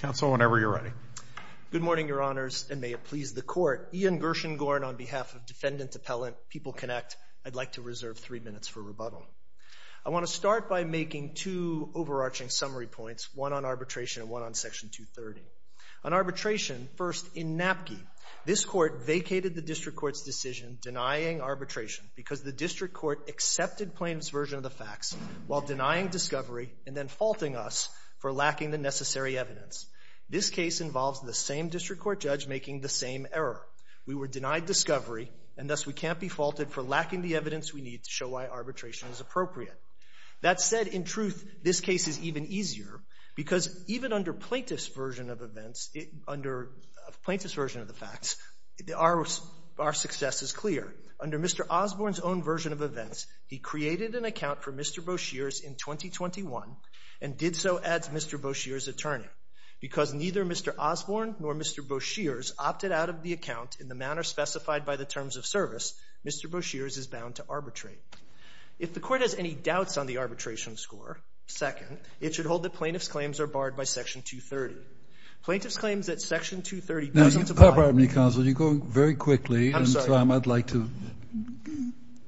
Good morning, Your Honors, and may it please the Court, Ian Gershengorn on behalf of Defendant Appellant PeopleConnect. I'd like to reserve three minutes for rebuttal. I want to start by making two overarching summary points, one on arbitration and one on Section 230. On arbitration, first, in Napke, this Court vacated the District Court's decision denying arbitration because the District Court accepted plaintiff's version of the facts while denying discovery and then faulting us for lacking the necessary evidence. This case involves the same District Court judge making the same error. We were denied discovery and thus we can't be faulted for lacking the evidence we need to show why arbitration is appropriate. That said, in truth, this case is even easier because even under plaintiff's version of events, under plaintiff's version of the facts, our success is clear. Under Mr. Osborne's own version of events, he created an account for Mr. Boshears in 2021 and did so as Mr. Boshears' attorney. Because neither Mr. Osborne nor Mr. Boshears opted out of the account in the manner specified by the terms of service, Mr. Boshears is bound to arbitrate. If the Court has any doubts on the arbitration score, second, it should hold that plaintiff's claims are barred by Section 230. Plaintiff's claims that Section 230 doesn't apply. Now, pardon me, counsel. You're going very quickly. I'm sorry. I'd like to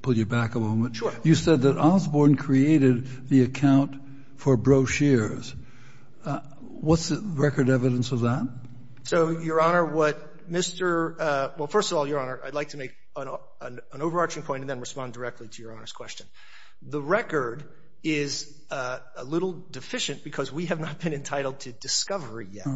pull you back a moment. Sure. You said that Osborne created the account for Boshears. What's the record evidence of that? So, Your Honor, what Mr. — well, first of all, Your Honor, I'd like to make an overarching point and then respond directly to Your Honor's question. The record is a little deficient because we have not been entitled to discovery yet.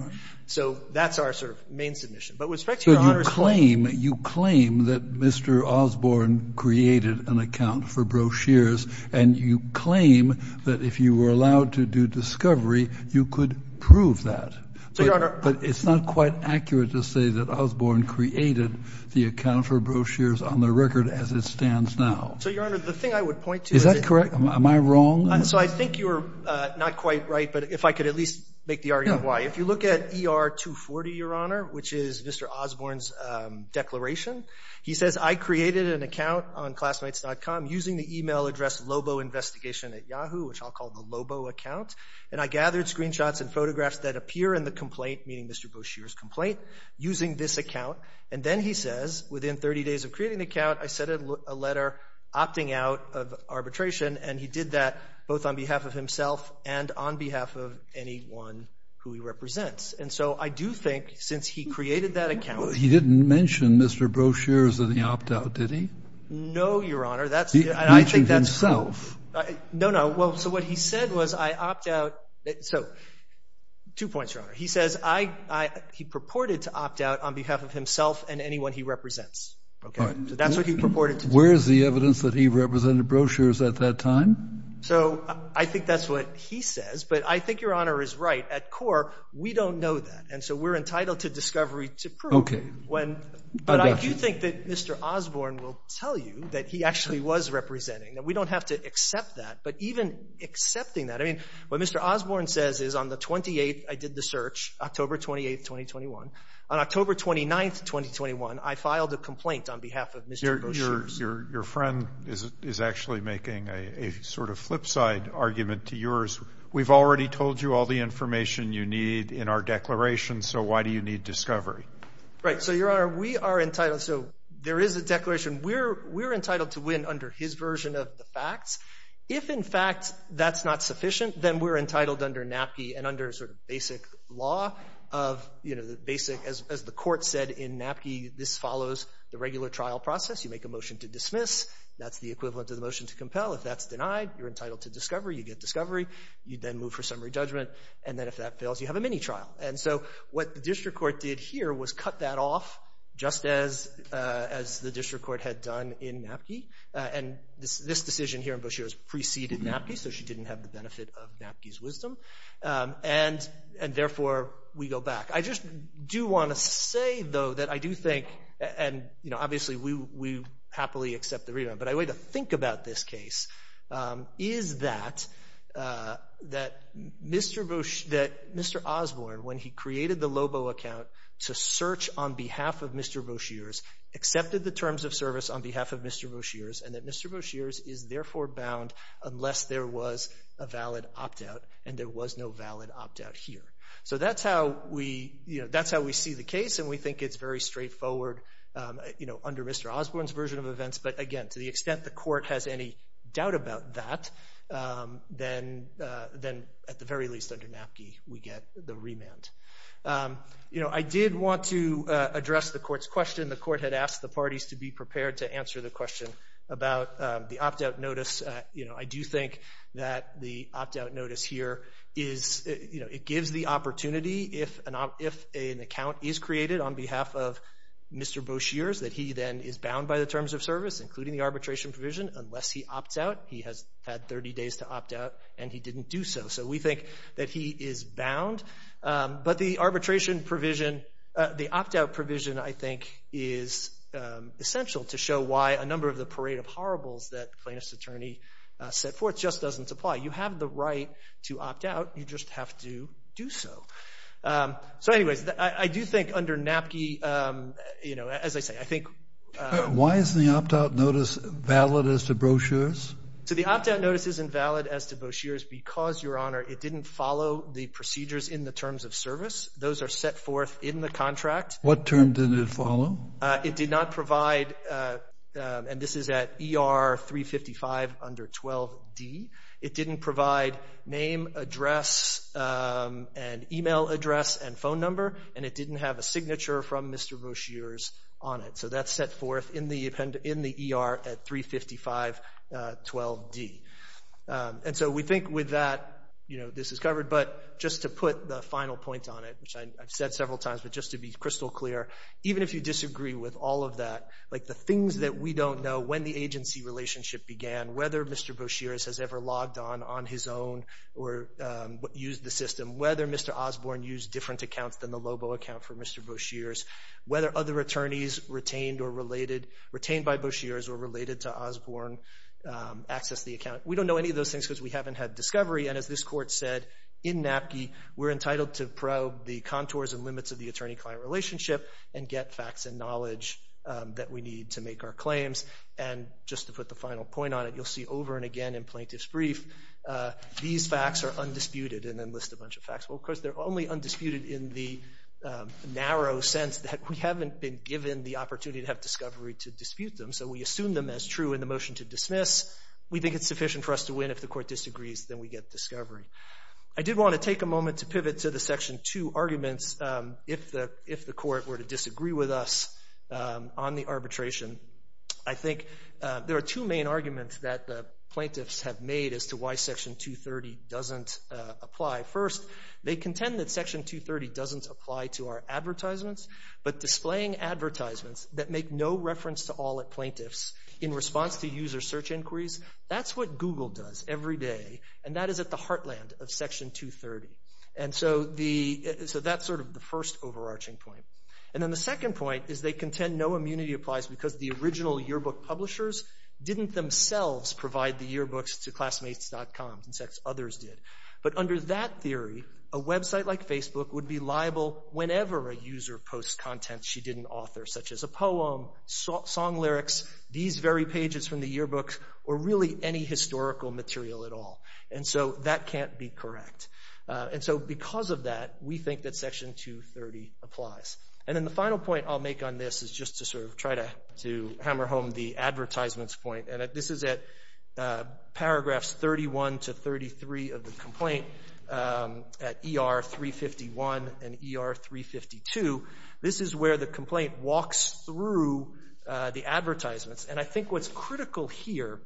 So that's our sort of main submission. But with respect to Your Honor's question — So you claim that Mr. Osborne created an account for Boshears, and you claim that if you were allowed to do discovery, you could prove that. So, Your Honor — But it's not quite accurate to say that Osborne created the account for Boshears on the record as it stands now. So, Your Honor, the thing I would point to is that — Is that correct? Am I wrong? So I think you're not quite right, but if I could at least make the argument of why. If you look at ER 240, Your Honor, which is Mr. Osborne's declaration, he says, I created an account on Classmates.com using the email address LoboInvestigation at Yahoo, which I'll call the Lobo account, and I gathered screenshots and photographs that appear in the complaint, meaning Mr. Boshears' complaint, using this account. And then he says, within 30 days of creating the account, I sent a letter opting out of arbitration, and he did that both on behalf of himself and on behalf of anyone who he represents. And so I do think, since he created that account — He didn't mention Mr. Boshears in the opt-out, did he? No, Your Honor, that's — He mentioned himself. No, no. Well, so what he said was, I opt out — so, two points, Your Honor. He says I — he purported to opt out on behalf of himself and anyone he represents. Okay? So that's what he purported to do. Where is the evidence that he represented Boshears at that time? So, I think that's what he says, but I think Your Honor is right. At core, we don't know that, and so we're entitled to discovery to prove it. Okay. But I do think that Mr. Osborne will tell you that he actually was representing. We don't have to accept that, but even accepting that — I mean, what Mr. Osborne says is, on the 28th, I did the search, October 28, 2021. On October 29, 2021, I filed a complaint on behalf of Mr. Boshears. Your friend is actually making a sort of flipside argument to yours. We've already told you all the information you need in our declaration, so why do you need discovery? Right. So, Your Honor, we are entitled — so, there is a declaration. We're entitled to win under his version of the facts. If, in fact, that's not sufficient, then we're entitled under NAPI and under sort of basic law of, you know, the basic — as the court said in NAPI, this follows the regular trial process. You make a motion to dismiss. That's the equivalent of the motion to compel. If that's denied, you're entitled to discovery. You get discovery. You then move for summary judgment. And then, if that fails, you have a mini-trial. And so, what the district court did here was cut that off, just as the district court had done in NAPI, and this decision here in Boshears preceded NAPI, so she didn't have the benefit of NAPI's wisdom. And therefore, we go back. I just do want to say, though, that I do think — and, you know, obviously, we happily accept the readout, but a way to think about this case is that Mr. Osborne, when he created the Lobo account to search on behalf of Mr. Boshears, accepted the terms of service on behalf of Mr. Boshears, and that Mr. Boshears is therefore bound unless there was a valid opt-out, and there was no valid opt-out here. So that's how we see the case, and we think it's very straightforward, you know, under Mr. Osborne's version of events. But, again, to the extent the court has any doubt about that, then, at the very least, under NAPI, we get the remand. You know, I did want to address the court's question. The court had asked the parties to be prepared to answer the question about the opt-out notice. You know, I do think that the opt-out notice here is, you know, it gives the opportunity if an account is created on behalf of Mr. Boshears, that he then is bound by the terms of service, including the arbitration provision, unless he opts out. He has had 30 days to opt out, and he didn't do so. So we think that he is bound. But the arbitration provision, the opt-out provision, I think, is essential to show why a number of the parade of horribles that plaintiff's attorney set forth just doesn't apply. You have the right to opt out. You just have to do so. So, anyways, I do think under NAPI, you know, as I say, I think. Why isn't the opt-out notice valid as to Boshears? So the opt-out notice isn't valid as to Boshears because, Your Honor, it didn't follow the procedures in the terms of service. Those are set forth in the contract. What term did it follow? It did not provide, and this is at ER 355 under 12D, it didn't provide name, address, and email address and phone number, and it didn't have a signature from Mr. Boshears on it. So that's set forth in the ER at 355 12D. And so we think with that, you know, this is covered. But just to put the final point on it, which I've said several times, but just to be crystal clear, even if you disagree with all of that, like the things that we don't know when the agency relationship began, whether Mr. Boshears has ever logged on on his own or used the system, whether Mr. Osborne used different accounts than the Lobo account for Mr. Boshears, whether other attorneys retained by Boshears or related to Osborne accessed the account. We don't know any of those things because we haven't had discovery, and as this Court said in NAPI, we're entitled to probe the contours and limits of the attorney-client relationship and get facts and knowledge that we need to make our claims. And just to put the final point on it, you'll see over and again in plaintiff's brief, these facts are undisputed, and then list a bunch of facts. Well, of course, they're only undisputed in the narrow sense that we haven't been given the opportunity to have discovery to dispute them, so we assume them as true in the motion to dismiss. We think it's sufficient for us to win if the Court disagrees, then we get discovery. I did want to take a moment to pivot to the Section 2 arguments if the Court were to disagree with us on the arbitration. I think there are two main arguments that the plaintiffs have made as to why Section 230 doesn't apply. First, they contend that Section 230 doesn't apply to our advertisements, but displaying advertisements that make no reference to all plaintiffs in response to user search inquiries, that's what Google does every day, and that is at the heartland of Section 230. And so that's sort of the first overarching point. And then the second point is they contend no immunity applies because the original yearbook publishers didn't themselves provide the yearbooks to classmates.com, in fact, others did. But under that theory, a website like Facebook would be liable whenever a user posts content she didn't author, such as a poem, song lyrics, these very pages from the yearbook, or really any historical material at all. And so that can't be correct. And so because of that, we think that Section 230 applies. And then the final point I'll make on this is just to sort of try to hammer home the advertisements point, and this is at paragraphs 31 to 33 of the complaint, at ER 351 and ER 352, this is where the complaint walks through the advertisements. And I think what's critical here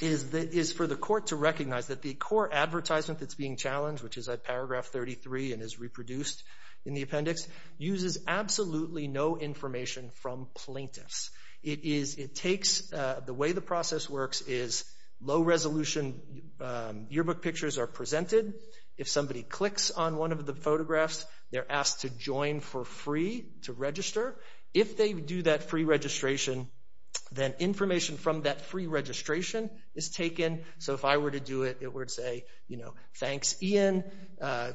is for the court to recognize that the core advertisement that's being challenged, which is at paragraph 33 and is reproduced in the appendix, uses absolutely no information from plaintiffs. The way the process works is low-resolution yearbook pictures are presented. If somebody clicks on one of the photographs, they're asked to join for free to register. If they do that free registration, then information from that free registration is taken. So if I were to do it, it would say, you know, thanks Ian,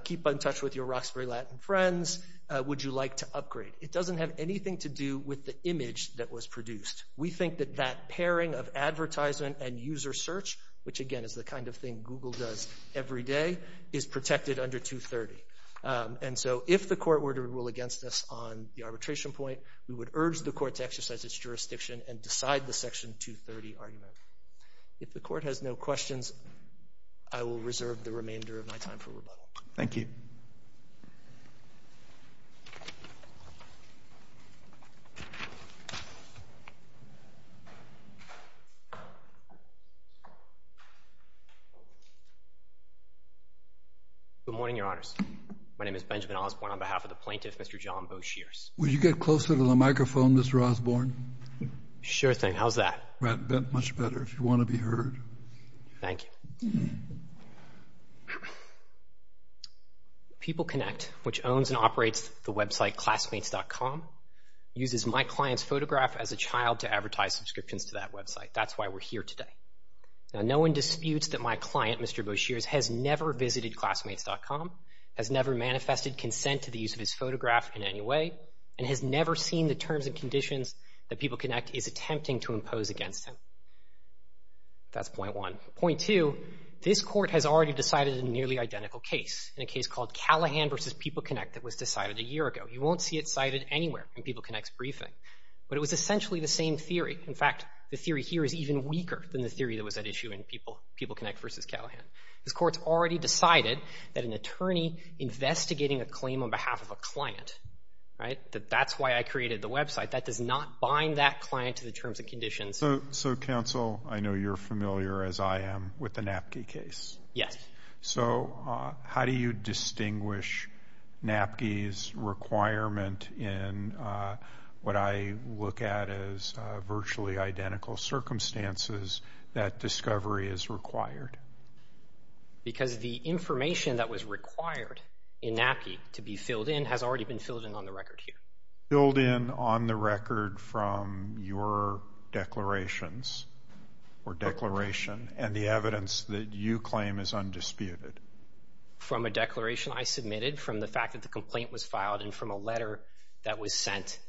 keep in touch with your Roxbury Latin friends, would you like to upgrade? It doesn't have anything to do with the image that was produced. We think that that pairing of advertisement and user search, which again is the kind of thing Google does every day, is protected under 230. And so if the court were to rule against us on the arbitration point, we would urge the court to exercise its jurisdiction and decide the section 230 argument. If the court has no questions, I will reserve the remainder of my time for rebuttal. Thank you. Good morning, Your Honors. My name is Benjamin Osborne on behalf of the plaintiff, Mr. John Boshears. Would you get closer to the microphone, Mr. Osborne? Sure thing. How's that? Much better, if you want to be heard. When people connect, people connect. When people connect, people connect. which owns and operates the website Classmates.com, uses my client's photograph as a child to advertise subscriptions to that website. That's why we're here today. Now, no one disputes that my client, Mr. Boshears, has never visited Classmates.com, has never manifested consent to the use of his photograph in any way, and has never seen the terms and conditions that People Connect is attempting to impose against him. That's point one. Point two, this court has already decided a nearly identical case, in a case called Callahan v. People Connect that was decided a year ago. You won't see it cited anywhere in People Connect's briefing. But it was essentially the same theory. In fact, the theory here is even weaker than the theory that was at issue in People Connect v. Callahan. This court's already decided that an attorney investigating a claim on behalf of a client, that that's why I created the website, that does not bind that client to the terms and conditions. So, counsel, I know you're familiar, as I am, with the Napki case. Yes. So how do you distinguish Napki's requirement in what I look at as virtually identical circumstances that discovery is required? Because the information that was required in Napki to be filled in has already been filled in on the record here. Filled in on the record from your declarations, or declaration, and the evidence that you claim is undisputed? From a declaration I submitted, from the fact that the complaint was filed, and from a letter that was sent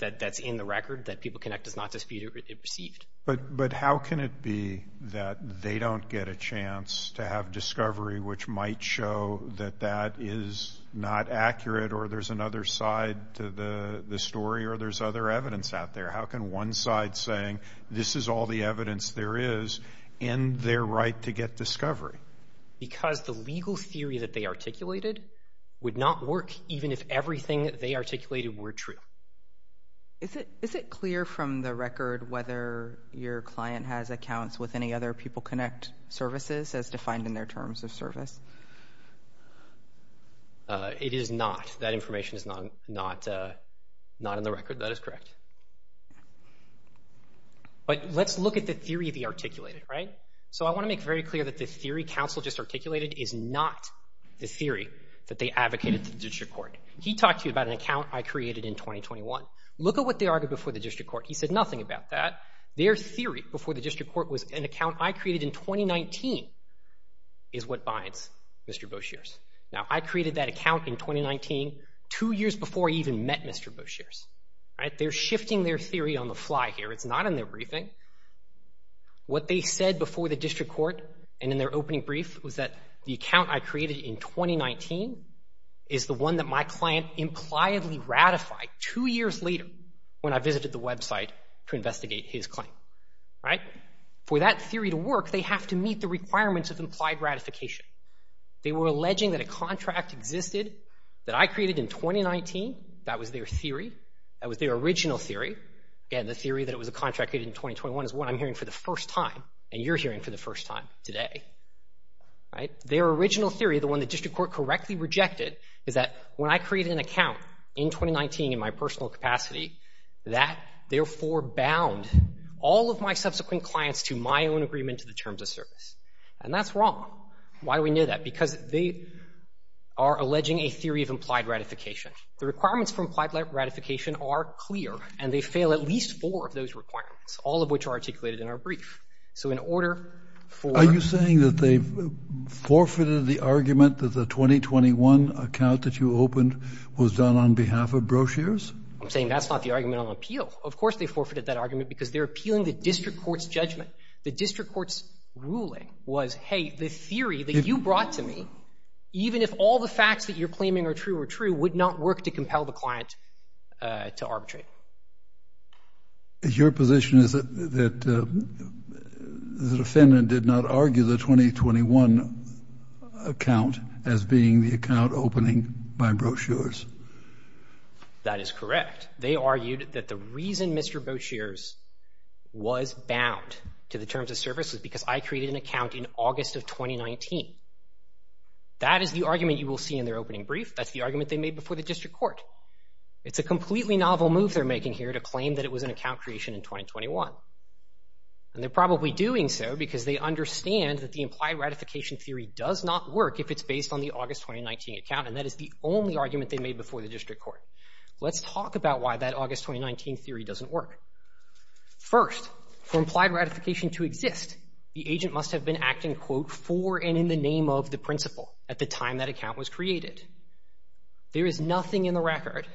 that's in the record that People Connect does not dispute it received. But how can it be that they don't get a chance to have discovery which might show that that is not accurate, or there's another side to the story, or there's other evidence out there? How can one side saying this is all the evidence there is end their right to get discovery? Because the legal theory that they articulated would not work even if everything that they articulated were true. Is it clear from the record whether your client has accounts with any other People Connect services as defined in their terms of service? It is not. That information is not in the record. That is correct. But let's look at the theory they articulated. So I want to make very clear that the theory counsel just articulated is not the theory that they advocated to the district court. He talked to you about an account I created in 2021. Look at what they argued before the district court. He said nothing about that. Their theory before the district court was an account I created in 2019 is what binds Mr. Boshears. Now, I created that account in 2019, two years before I even met Mr. Boshears. They're shifting their theory on the fly here. It's not in their briefing. What they said before the district court and in their opening brief was that the account I created in 2019 is the one that my client impliedly ratified two years later when I visited the website to investigate his claim. For that theory to work, they have to meet the requirements of implied ratification. They were alleging that a contract existed that I created in 2019. That was their theory. That was their original theory. And the theory that it was a contract created in 2021 is what I'm hearing for the first time, and you're hearing for the first time today. Their original theory, the one the district court correctly rejected, is that when I created an account in 2019 in my personal capacity, that therefore bound all of my subsequent clients to my own agreement to the terms of service. And that's wrong. Why do we know that? Because they are alleging a theory of implied ratification. The requirements for implied ratification are clear, and they fail at least four of those requirements, all of which are articulated in our brief. So in order for... Are you saying that they forfeited the argument that the 2021 account that you opened was done on behalf of brochures? I'm saying that's not the argument on appeal. Of course they forfeited that argument because they're appealing the district court's judgment. The district court's ruling was, hey, the theory that you brought to me, even if all the facts that you're claiming are true are true, would not work to compel the client to arbitrate. Your position is that the defendant did not argue the 2021 account as being the account opening by brochures? That is correct. They argued that the reason Mr. Boucher's was bound to the terms of service was because I created an account in August of 2019. That is the argument you will see in their opening brief. That's the argument they made before the district court. It's a completely novel move they're making here to claim that it was an account creation in 2021. And they're probably doing so because they understand that the implied ratification theory does not work if it's based on the August 2019 account, and that is the only argument they made before the district court. Let's talk about why that August 2019 theory doesn't work. First, for implied ratification to exist, the agent must have been acting, quote, for and in the name of the principal at the time that account was created. There is nothing in the record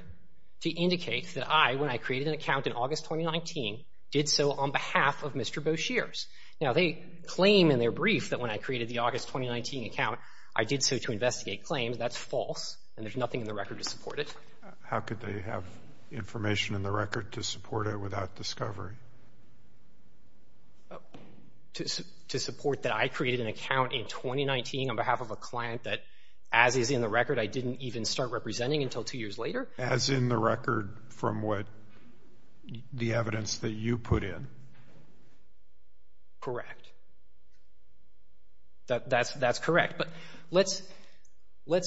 to indicate that I, when I created an account in August 2019, did so on behalf of Mr. Boucher's. Now, they claim in their brief that when I created the August 2019 account, I did so to investigate claims. That's false, and there's nothing in the record to support it. How could they have information in the record to support it without discovery? To support that I created an account in 2019 on behalf of a client that, as is in the record, I didn't even start representing until two years later? As in the record from what the evidence that you put in. Correct. That's correct. But let's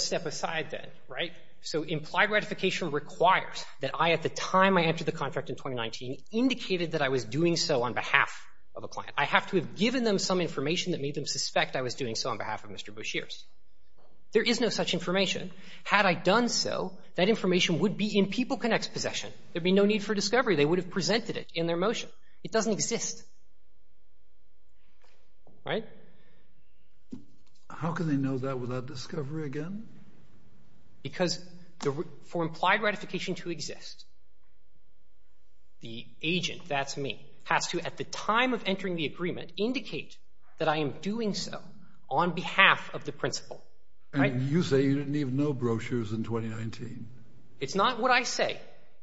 step aside then, right? So implied ratification requires that I, at the time I entered the contract in 2019, indicated that I was doing so on behalf of a client. I have to have given them some information that made them suspect I was doing so on behalf of Mr. Boucher's. There is no such information. Had I done so, that information would be in PeopleConnect's possession. There'd be no need for discovery. They would have presented it in their motion. It doesn't exist. Right? How can they know that without discovery again? Because for implied ratification to exist, the agent, that's me, has to, at the time of entering the agreement, indicate that I am doing so on behalf of the principal. And you say you didn't even know brochures in 2019. It's not what I say.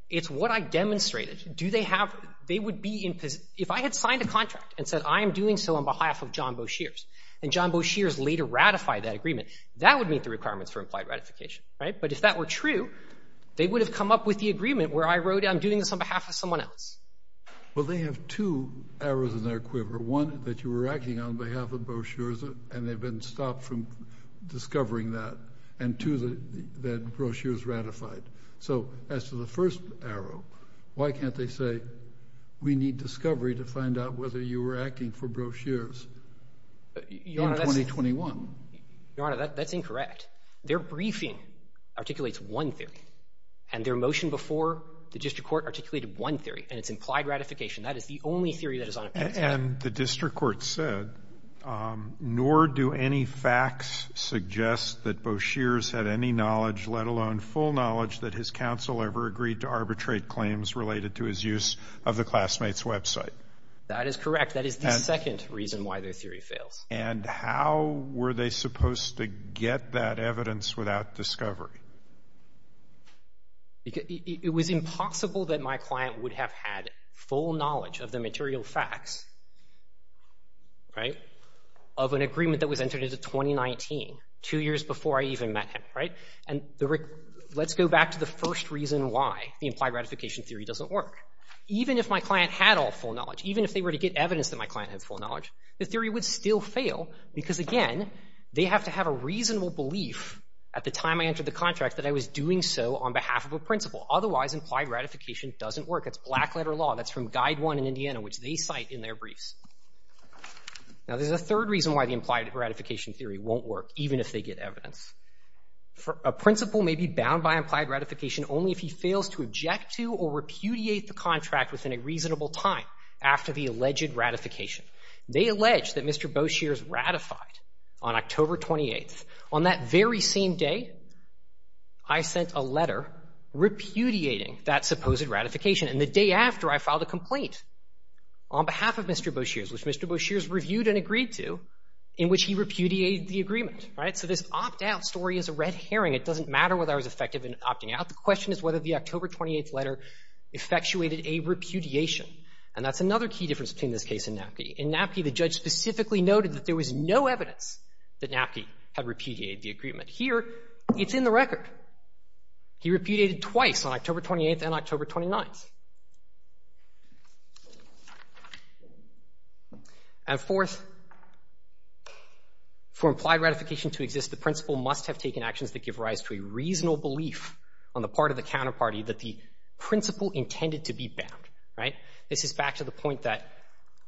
It's what I demonstrated. Do they have... If I had signed a contract and said, I am doing so on behalf of John Boucher's, and John Boucher's later ratified that agreement, that would meet the requirements for implied ratification. Right? But if that were true, they would have come up with the agreement where I wrote, I'm doing this on behalf of someone else. Well, they have two arrows in their quiver. One, that you were acting on behalf of Boucher's, and they've been stopped from discovering that. And two, that Boucher's ratified. So, as to the first arrow, why can't they say, we need discovery to find out whether you were acting for Boucher's in 2021? Your Honor, that's incorrect. Their briefing articulates one theory. And their motion before the district court articulated one theory, and it's implied ratification. That is the only theory that is on it. And the district court said, nor do any facts suggest that Boucher's had any knowledge, let alone full knowledge, that his counsel ever agreed to arbitrate claims related to his use of the classmates' website. That is correct. That is the second reason why their theory fails. And how were they supposed to get that evidence without discovery? It was impossible that my client would have had full knowledge of the material facts, right, of an agreement that was entered into 2019, two years before I even met him, right? And let's go back to the first reason why the implied ratification theory doesn't work. Even if my client had all full knowledge, even if they were to get evidence that my client had full knowledge, the theory would still fail because, again, they have to have a reasonable belief at the time I entered the contract that I was doing so on behalf of a principal. Otherwise, implied ratification doesn't work. It's black-letter law. That's from Guide 1 in Indiana, which they cite in their briefs. Now, there's a third reason why the implied ratification theory won't work, even if they get evidence. A principal may be bound by implied ratification only if he fails to object to or repudiate the contract within a reasonable time after the alleged ratification. They allege that Mr. Boshears ratified on October 28th. On that very same day, I sent a letter repudiating that supposed ratification. And the day after, I filed a complaint on behalf of Mr. Boshears, which Mr. Boshears reviewed and agreed to, in which he repudiated the agreement, right? So this opt-out story is a red herring. It doesn't matter whether I was effective in opting out. The question is whether the October 28th letter effectuated a repudiation. And that's another key difference between this case and Napke. In Napke, the judge specifically noted that there was no evidence that Napke had repudiated the agreement. Here, it's in the record. He repudiated twice, on October 28th and October 29th. And fourth, for implied ratification to exist, the principal must have taken actions that give rise to a reasonable belief on the part of the counterparty that the principal intended to be bound, right? This is back to the point that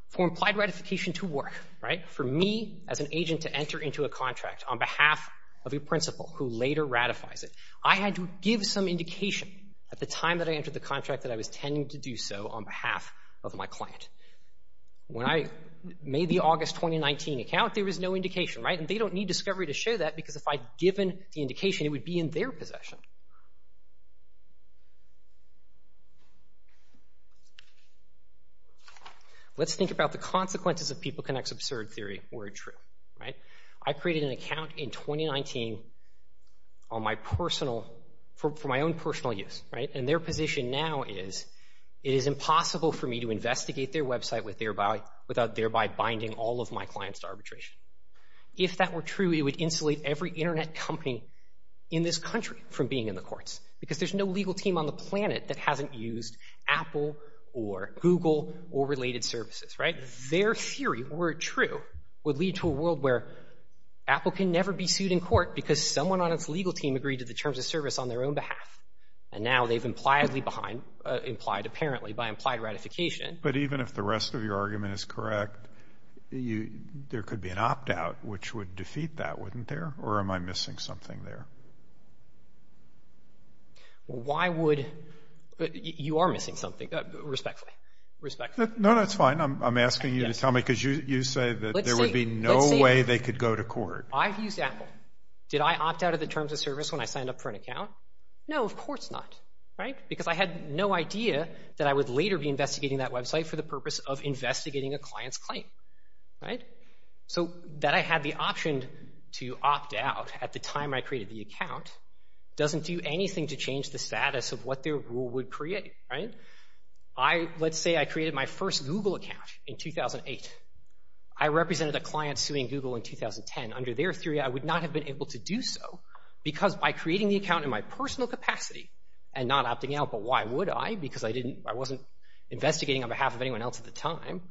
for implied ratification to work, right? For me, as an agent, to enter into a contract on behalf of a principal who later ratifies it, I had to give some indication at the time that I entered the contract that I was intending to do so on behalf of my client. When I made the August 2019 account, there was no indication, right? And they don't need discovery to show that because if I'd given the indication, it would be in their possession. Let's think about the consequences of PeopleConnect's absurd theory were true, right? I created an account in 2019 for my own personal use, right? And their position now is it is impossible for me to investigate their website without thereby binding all of my clients to arbitration. If that were true, it would insulate every Internet company in this country from being in the courts because there's no legal team on the planet that hasn't used Apple or Google or related services, right? Their theory, were it true, would lead to a world where Apple can never be sued in court because someone on its legal team agreed to the terms of service on their own behalf. And now they've implied apparently by implied ratification. But even if the rest of your argument is correct, there could be an opt-out which would defeat that, wouldn't there? Or am I missing something there? Why would... You are missing something, respectfully. Respectfully. No, that's fine. I'm asking you to tell me because you say that there would be no way they could go to court. I've used Apple. Did I opt out of the terms of service when I signed up for an account? No, of course not, right? Because I had no idea that I would later be investigating that website for the purpose of investigating a client's claim, right? So that I had the option to opt out at the time I created the account doesn't do anything to change the status of what their rule would create, right? Let's say I created my first Google account in 2008. I represented a client suing Google in 2010. Under their theory, I would not have been able to do so because by creating the account in my personal capacity and not opting out, but why would I? Because I wasn't investigating on behalf of anyone else at the time.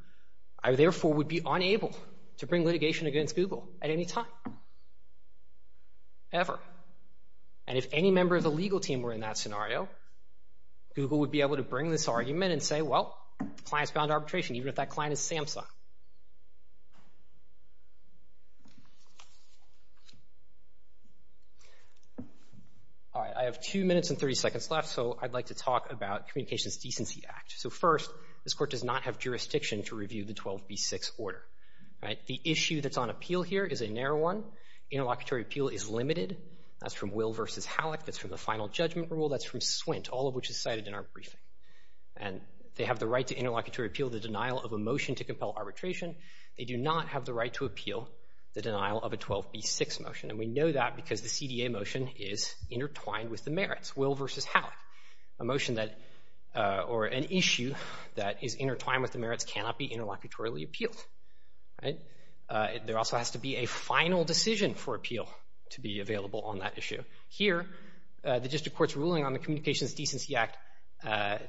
I therefore would be unable to bring litigation against Google at any time. Ever. And if any member of the legal team were in that scenario, Google would be able to bring this argument and say, well, the client's bound to arbitration, even if that client is Samsung. All right, I have two minutes and 30 seconds left, so I'd like to talk about Communications Decency Act. So first, this court does not have jurisdiction to review the 12B6 order, right? The issue that's on appeal here is a narrow one. Interlocutory appeal is limited. That's from Will v. Halleck. That's from the Final Judgment Rule. That's from SWINT, all of which is cited in our briefing. And they have the right to interlocutory appeal the denial of a motion to compel arbitration. They do not have the right to appeal the denial of a 12B6 motion, and we know that because the CDA motion is intertwined with the merits. Will v. Halleck, a motion that... or an issue that is intertwined with the merits cannot be interlocutorily appealed, right? There also has to be a final decision for appeal to be available on that issue. Here, the district court's ruling on the Communications Decency Act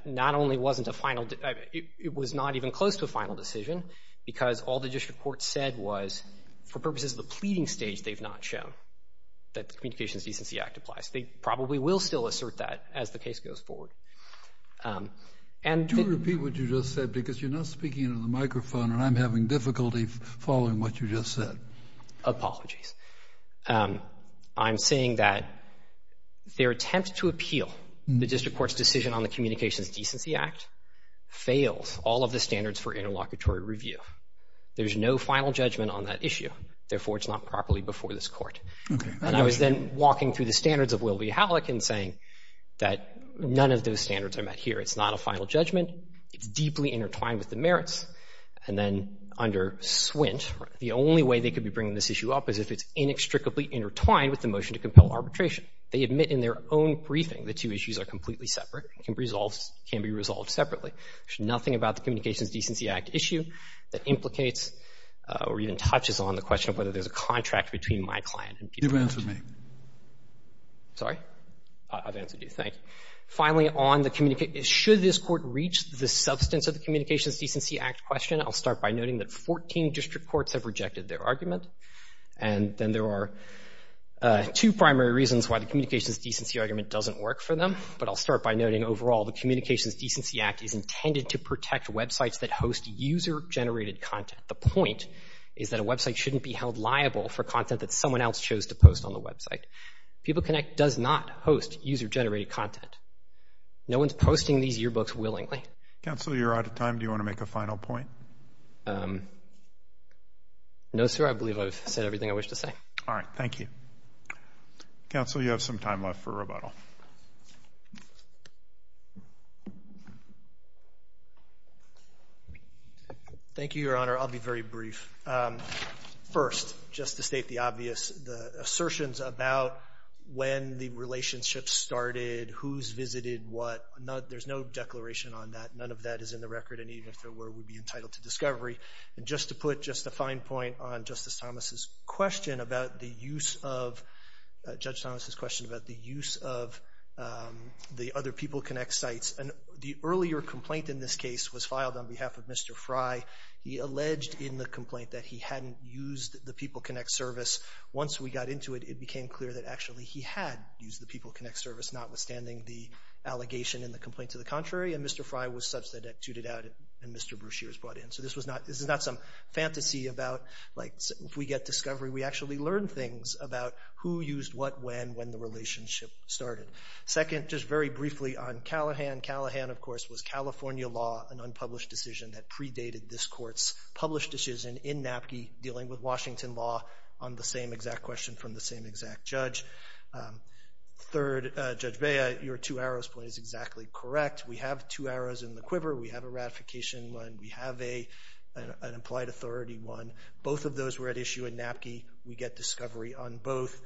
not only wasn't a final... it was not even close to a final decision because all the district court said was, for purposes of the pleading stage, they've not shown that the Communications Decency Act applies. They probably will still assert that as the case goes forward. And... Do repeat what you just said because you're not speaking into the microphone and I'm having difficulty following what you just said. Apologies. I'm saying that their attempt to appeal the district court's decision on the Communications Decency Act fails all of the standards for interlocutory review. There's no final judgment on that issue. Therefore, it's not properly before this court. And I was then walking through the standards of Will v. Halleck and saying that none of those standards are met here. It's not a final judgment. It's deeply intertwined with the merits, and then under Swint, the only way they could be bringing this issue up is if it's inextricably intertwined with the motion to compel arbitration. They admit in their own briefing the two issues are completely separate and can be resolved separately. There's nothing about the Communications Decency Act issue that implicates or even touches on the question of whether there's a contract between my client and... You've answered me. Sorry? I've answered you. Thank you. Finally, on the... Should this court reach the substance of the Communications Decency Act question, I'll start by noting that 14 district courts have rejected their argument, and then there are two primary reasons why the Communications Decency argument doesn't work for them. But I'll start by noting, overall, the Communications Decency Act is intended to protect websites that host user-generated content. The point is that a website shouldn't be held liable for content that someone else chose to post on the website. PeopleConnect does not host user-generated content. No one's posting these yearbooks willingly. Counsel, you're out of time. Do you want to make a final point? No, sir, I believe I've said everything I wish to say. All right, thank you. Counsel, you have some time left for rebuttal. Thank you, Your Honor. I'll be very brief. First, just to state the obvious, the assertions about when the relationship started, who's visited what, there's no declaration on that. None of that is in the record, and even if there were, we'd be entitled to discovery. And just to put just a fine point on Justice Thomas' question about the use of, Judge Thomas' question about the use of the other PeopleConnect sites, the earlier complaint in this case was filed on behalf of Mr. Fry. He alleged in the complaint that he hadn't used the PeopleConnect service. Once we got into it, it became clear that actually he had used the PeopleConnect service, notwithstanding the allegation in the complaint to the contrary, and Mr. Fry was substituted out and Mr. Bruchier was brought in. So this is not some fantasy about, like, if we get discovery, we actually learn things about who used what, when, when the relationship started. Second, just very briefly on Callahan. Callahan, of course, was California law, an unpublished decision that predated this Court's published decision in Napke dealing with Washington law on the same exact question from the same exact judge. Third, Judge Bea, your two arrows point is exactly correct. We have two arrows in the quiver. We have a ratification one. We have an implied authority one. Both of those were at issue in Napke. We get discovery on both.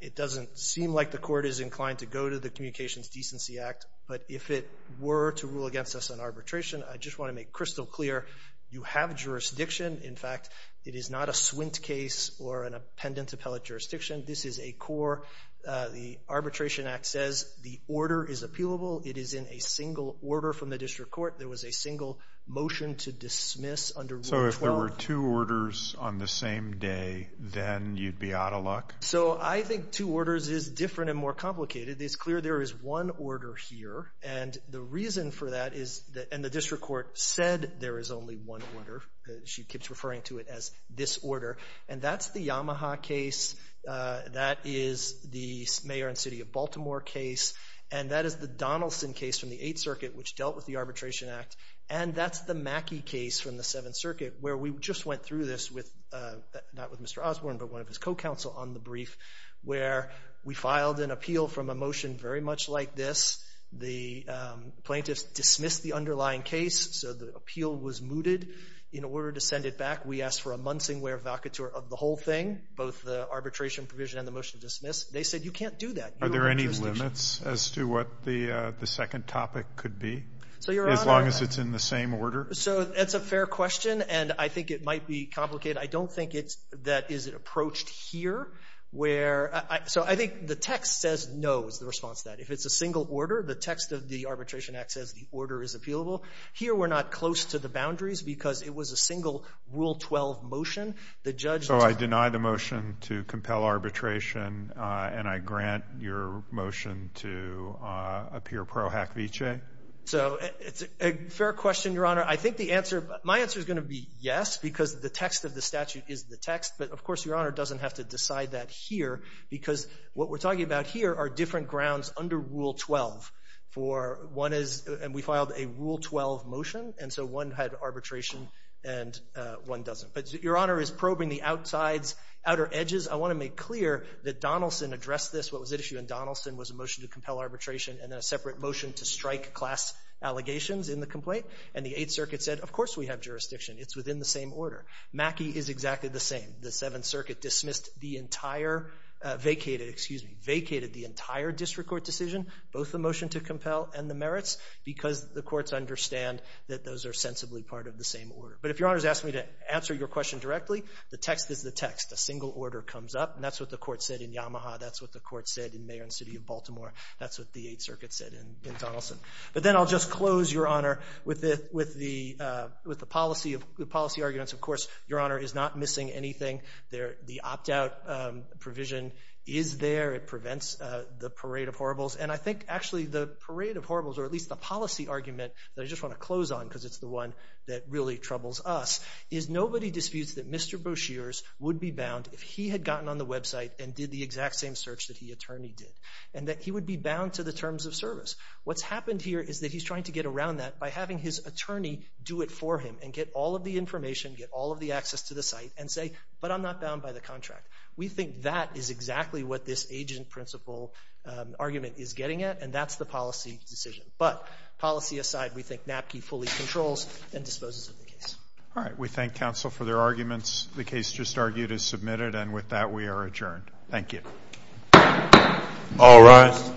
It doesn't seem like the Court is inclined to go to the Communications Decency Act, but if it were to rule against us on arbitration, I just want to make crystal clear, you have jurisdiction. In fact, it is not a swint case or an appendant appellate jurisdiction. This is a core. The Arbitration Act says the order is appealable. It is in a single order from the District Court. There was a single motion to dismiss under Rule 12. So if there were two orders on the same day, then you'd be out of luck? So I think two orders is different and more complicated. It's clear there is one order here, and the reason for that is that, and the District Court said there is only one order. She keeps referring to it as this order, and that's the Yamaha case. That is the Mayor and City of Baltimore case, and that is the Donaldson case from the Eighth Circuit which dealt with the Arbitration Act, and that's the Mackey case from the Seventh Circuit where we just went through this with, not with Mr. Osborne, but one of his co-counsel on the brief where we filed an appeal from a motion very much like this. The plaintiffs dismissed the underlying case, so the appeal was mooted. In order to send it back, we asked for a Munsingwear vacatur of the whole thing, both the arbitration provision and the motion dismissed. They said you can't do that. Are there any limits as to what the second topic could be? As long as it's in the same order? So that's a fair question, and I think it might be complicated. I don't think that is it approached here where... So I think the text says no is the response to that. If it's a single order, the text of the Arbitration Act says the order is appealable. Here we're not close to the boundaries because it was a single Rule 12 motion. The judge... So I deny the motion to compel arbitration, and I grant your motion to appear pro hack vicee? So it's a fair question, Your Honor. I think the answer... My answer is going to be yes because the text of the statute is the text, but, of course, Your Honor doesn't have to decide that here because what we're talking about here are different grounds under Rule 12 for one is... And we filed a Rule 12 motion, and so one had arbitration and one doesn't. But Your Honor is probing the outsides, outer edges. I want to make clear that Donaldson addressed this. What was at issue in Donaldson was a motion to compel arbitration and then a separate motion to strike class allegations in the complaint, and the Eighth Circuit said, of course we have jurisdiction. It's within the same order. Mackey is exactly the same. The Seventh Circuit dismissed the entire... Vacated, excuse me, vacated the entire district court decision, both the motion to compel and the merits, because the courts understand that those are sensibly part of the same order. But if Your Honor's asking me to answer your question directly, the text is the text. A single order comes up, and that's what the court said in Yamaha. That's what the court said in Mayor and City of Baltimore. That's what the Eighth Circuit said in Donaldson. But then I'll just close, Your Honor, with the policy arguments. Of course, Your Honor is not missing anything. The opt-out provision is there. It prevents the parade of horribles. And I think, actually, the parade of horribles, or at least the policy argument that I just want to close on, because it's the one that really troubles us, is nobody disputes that Mr. Boshears would be bound if he had gotten on the website and did the exact same search that the attorney did, and that he would be bound to the terms of service. What's happened here is that he's trying to get around that by having his attorney do it for him and get all of the information, get all of the access to the site, and say, but I'm not bound by the contract. We think that is exactly what this agent-principal argument is getting at, and that's the policy decision. But policy aside, we think Napke fully controls and disposes of the case. All right. We thank counsel for their arguments. The case just argued is submitted, and with that we are adjourned. Thank you. All rise.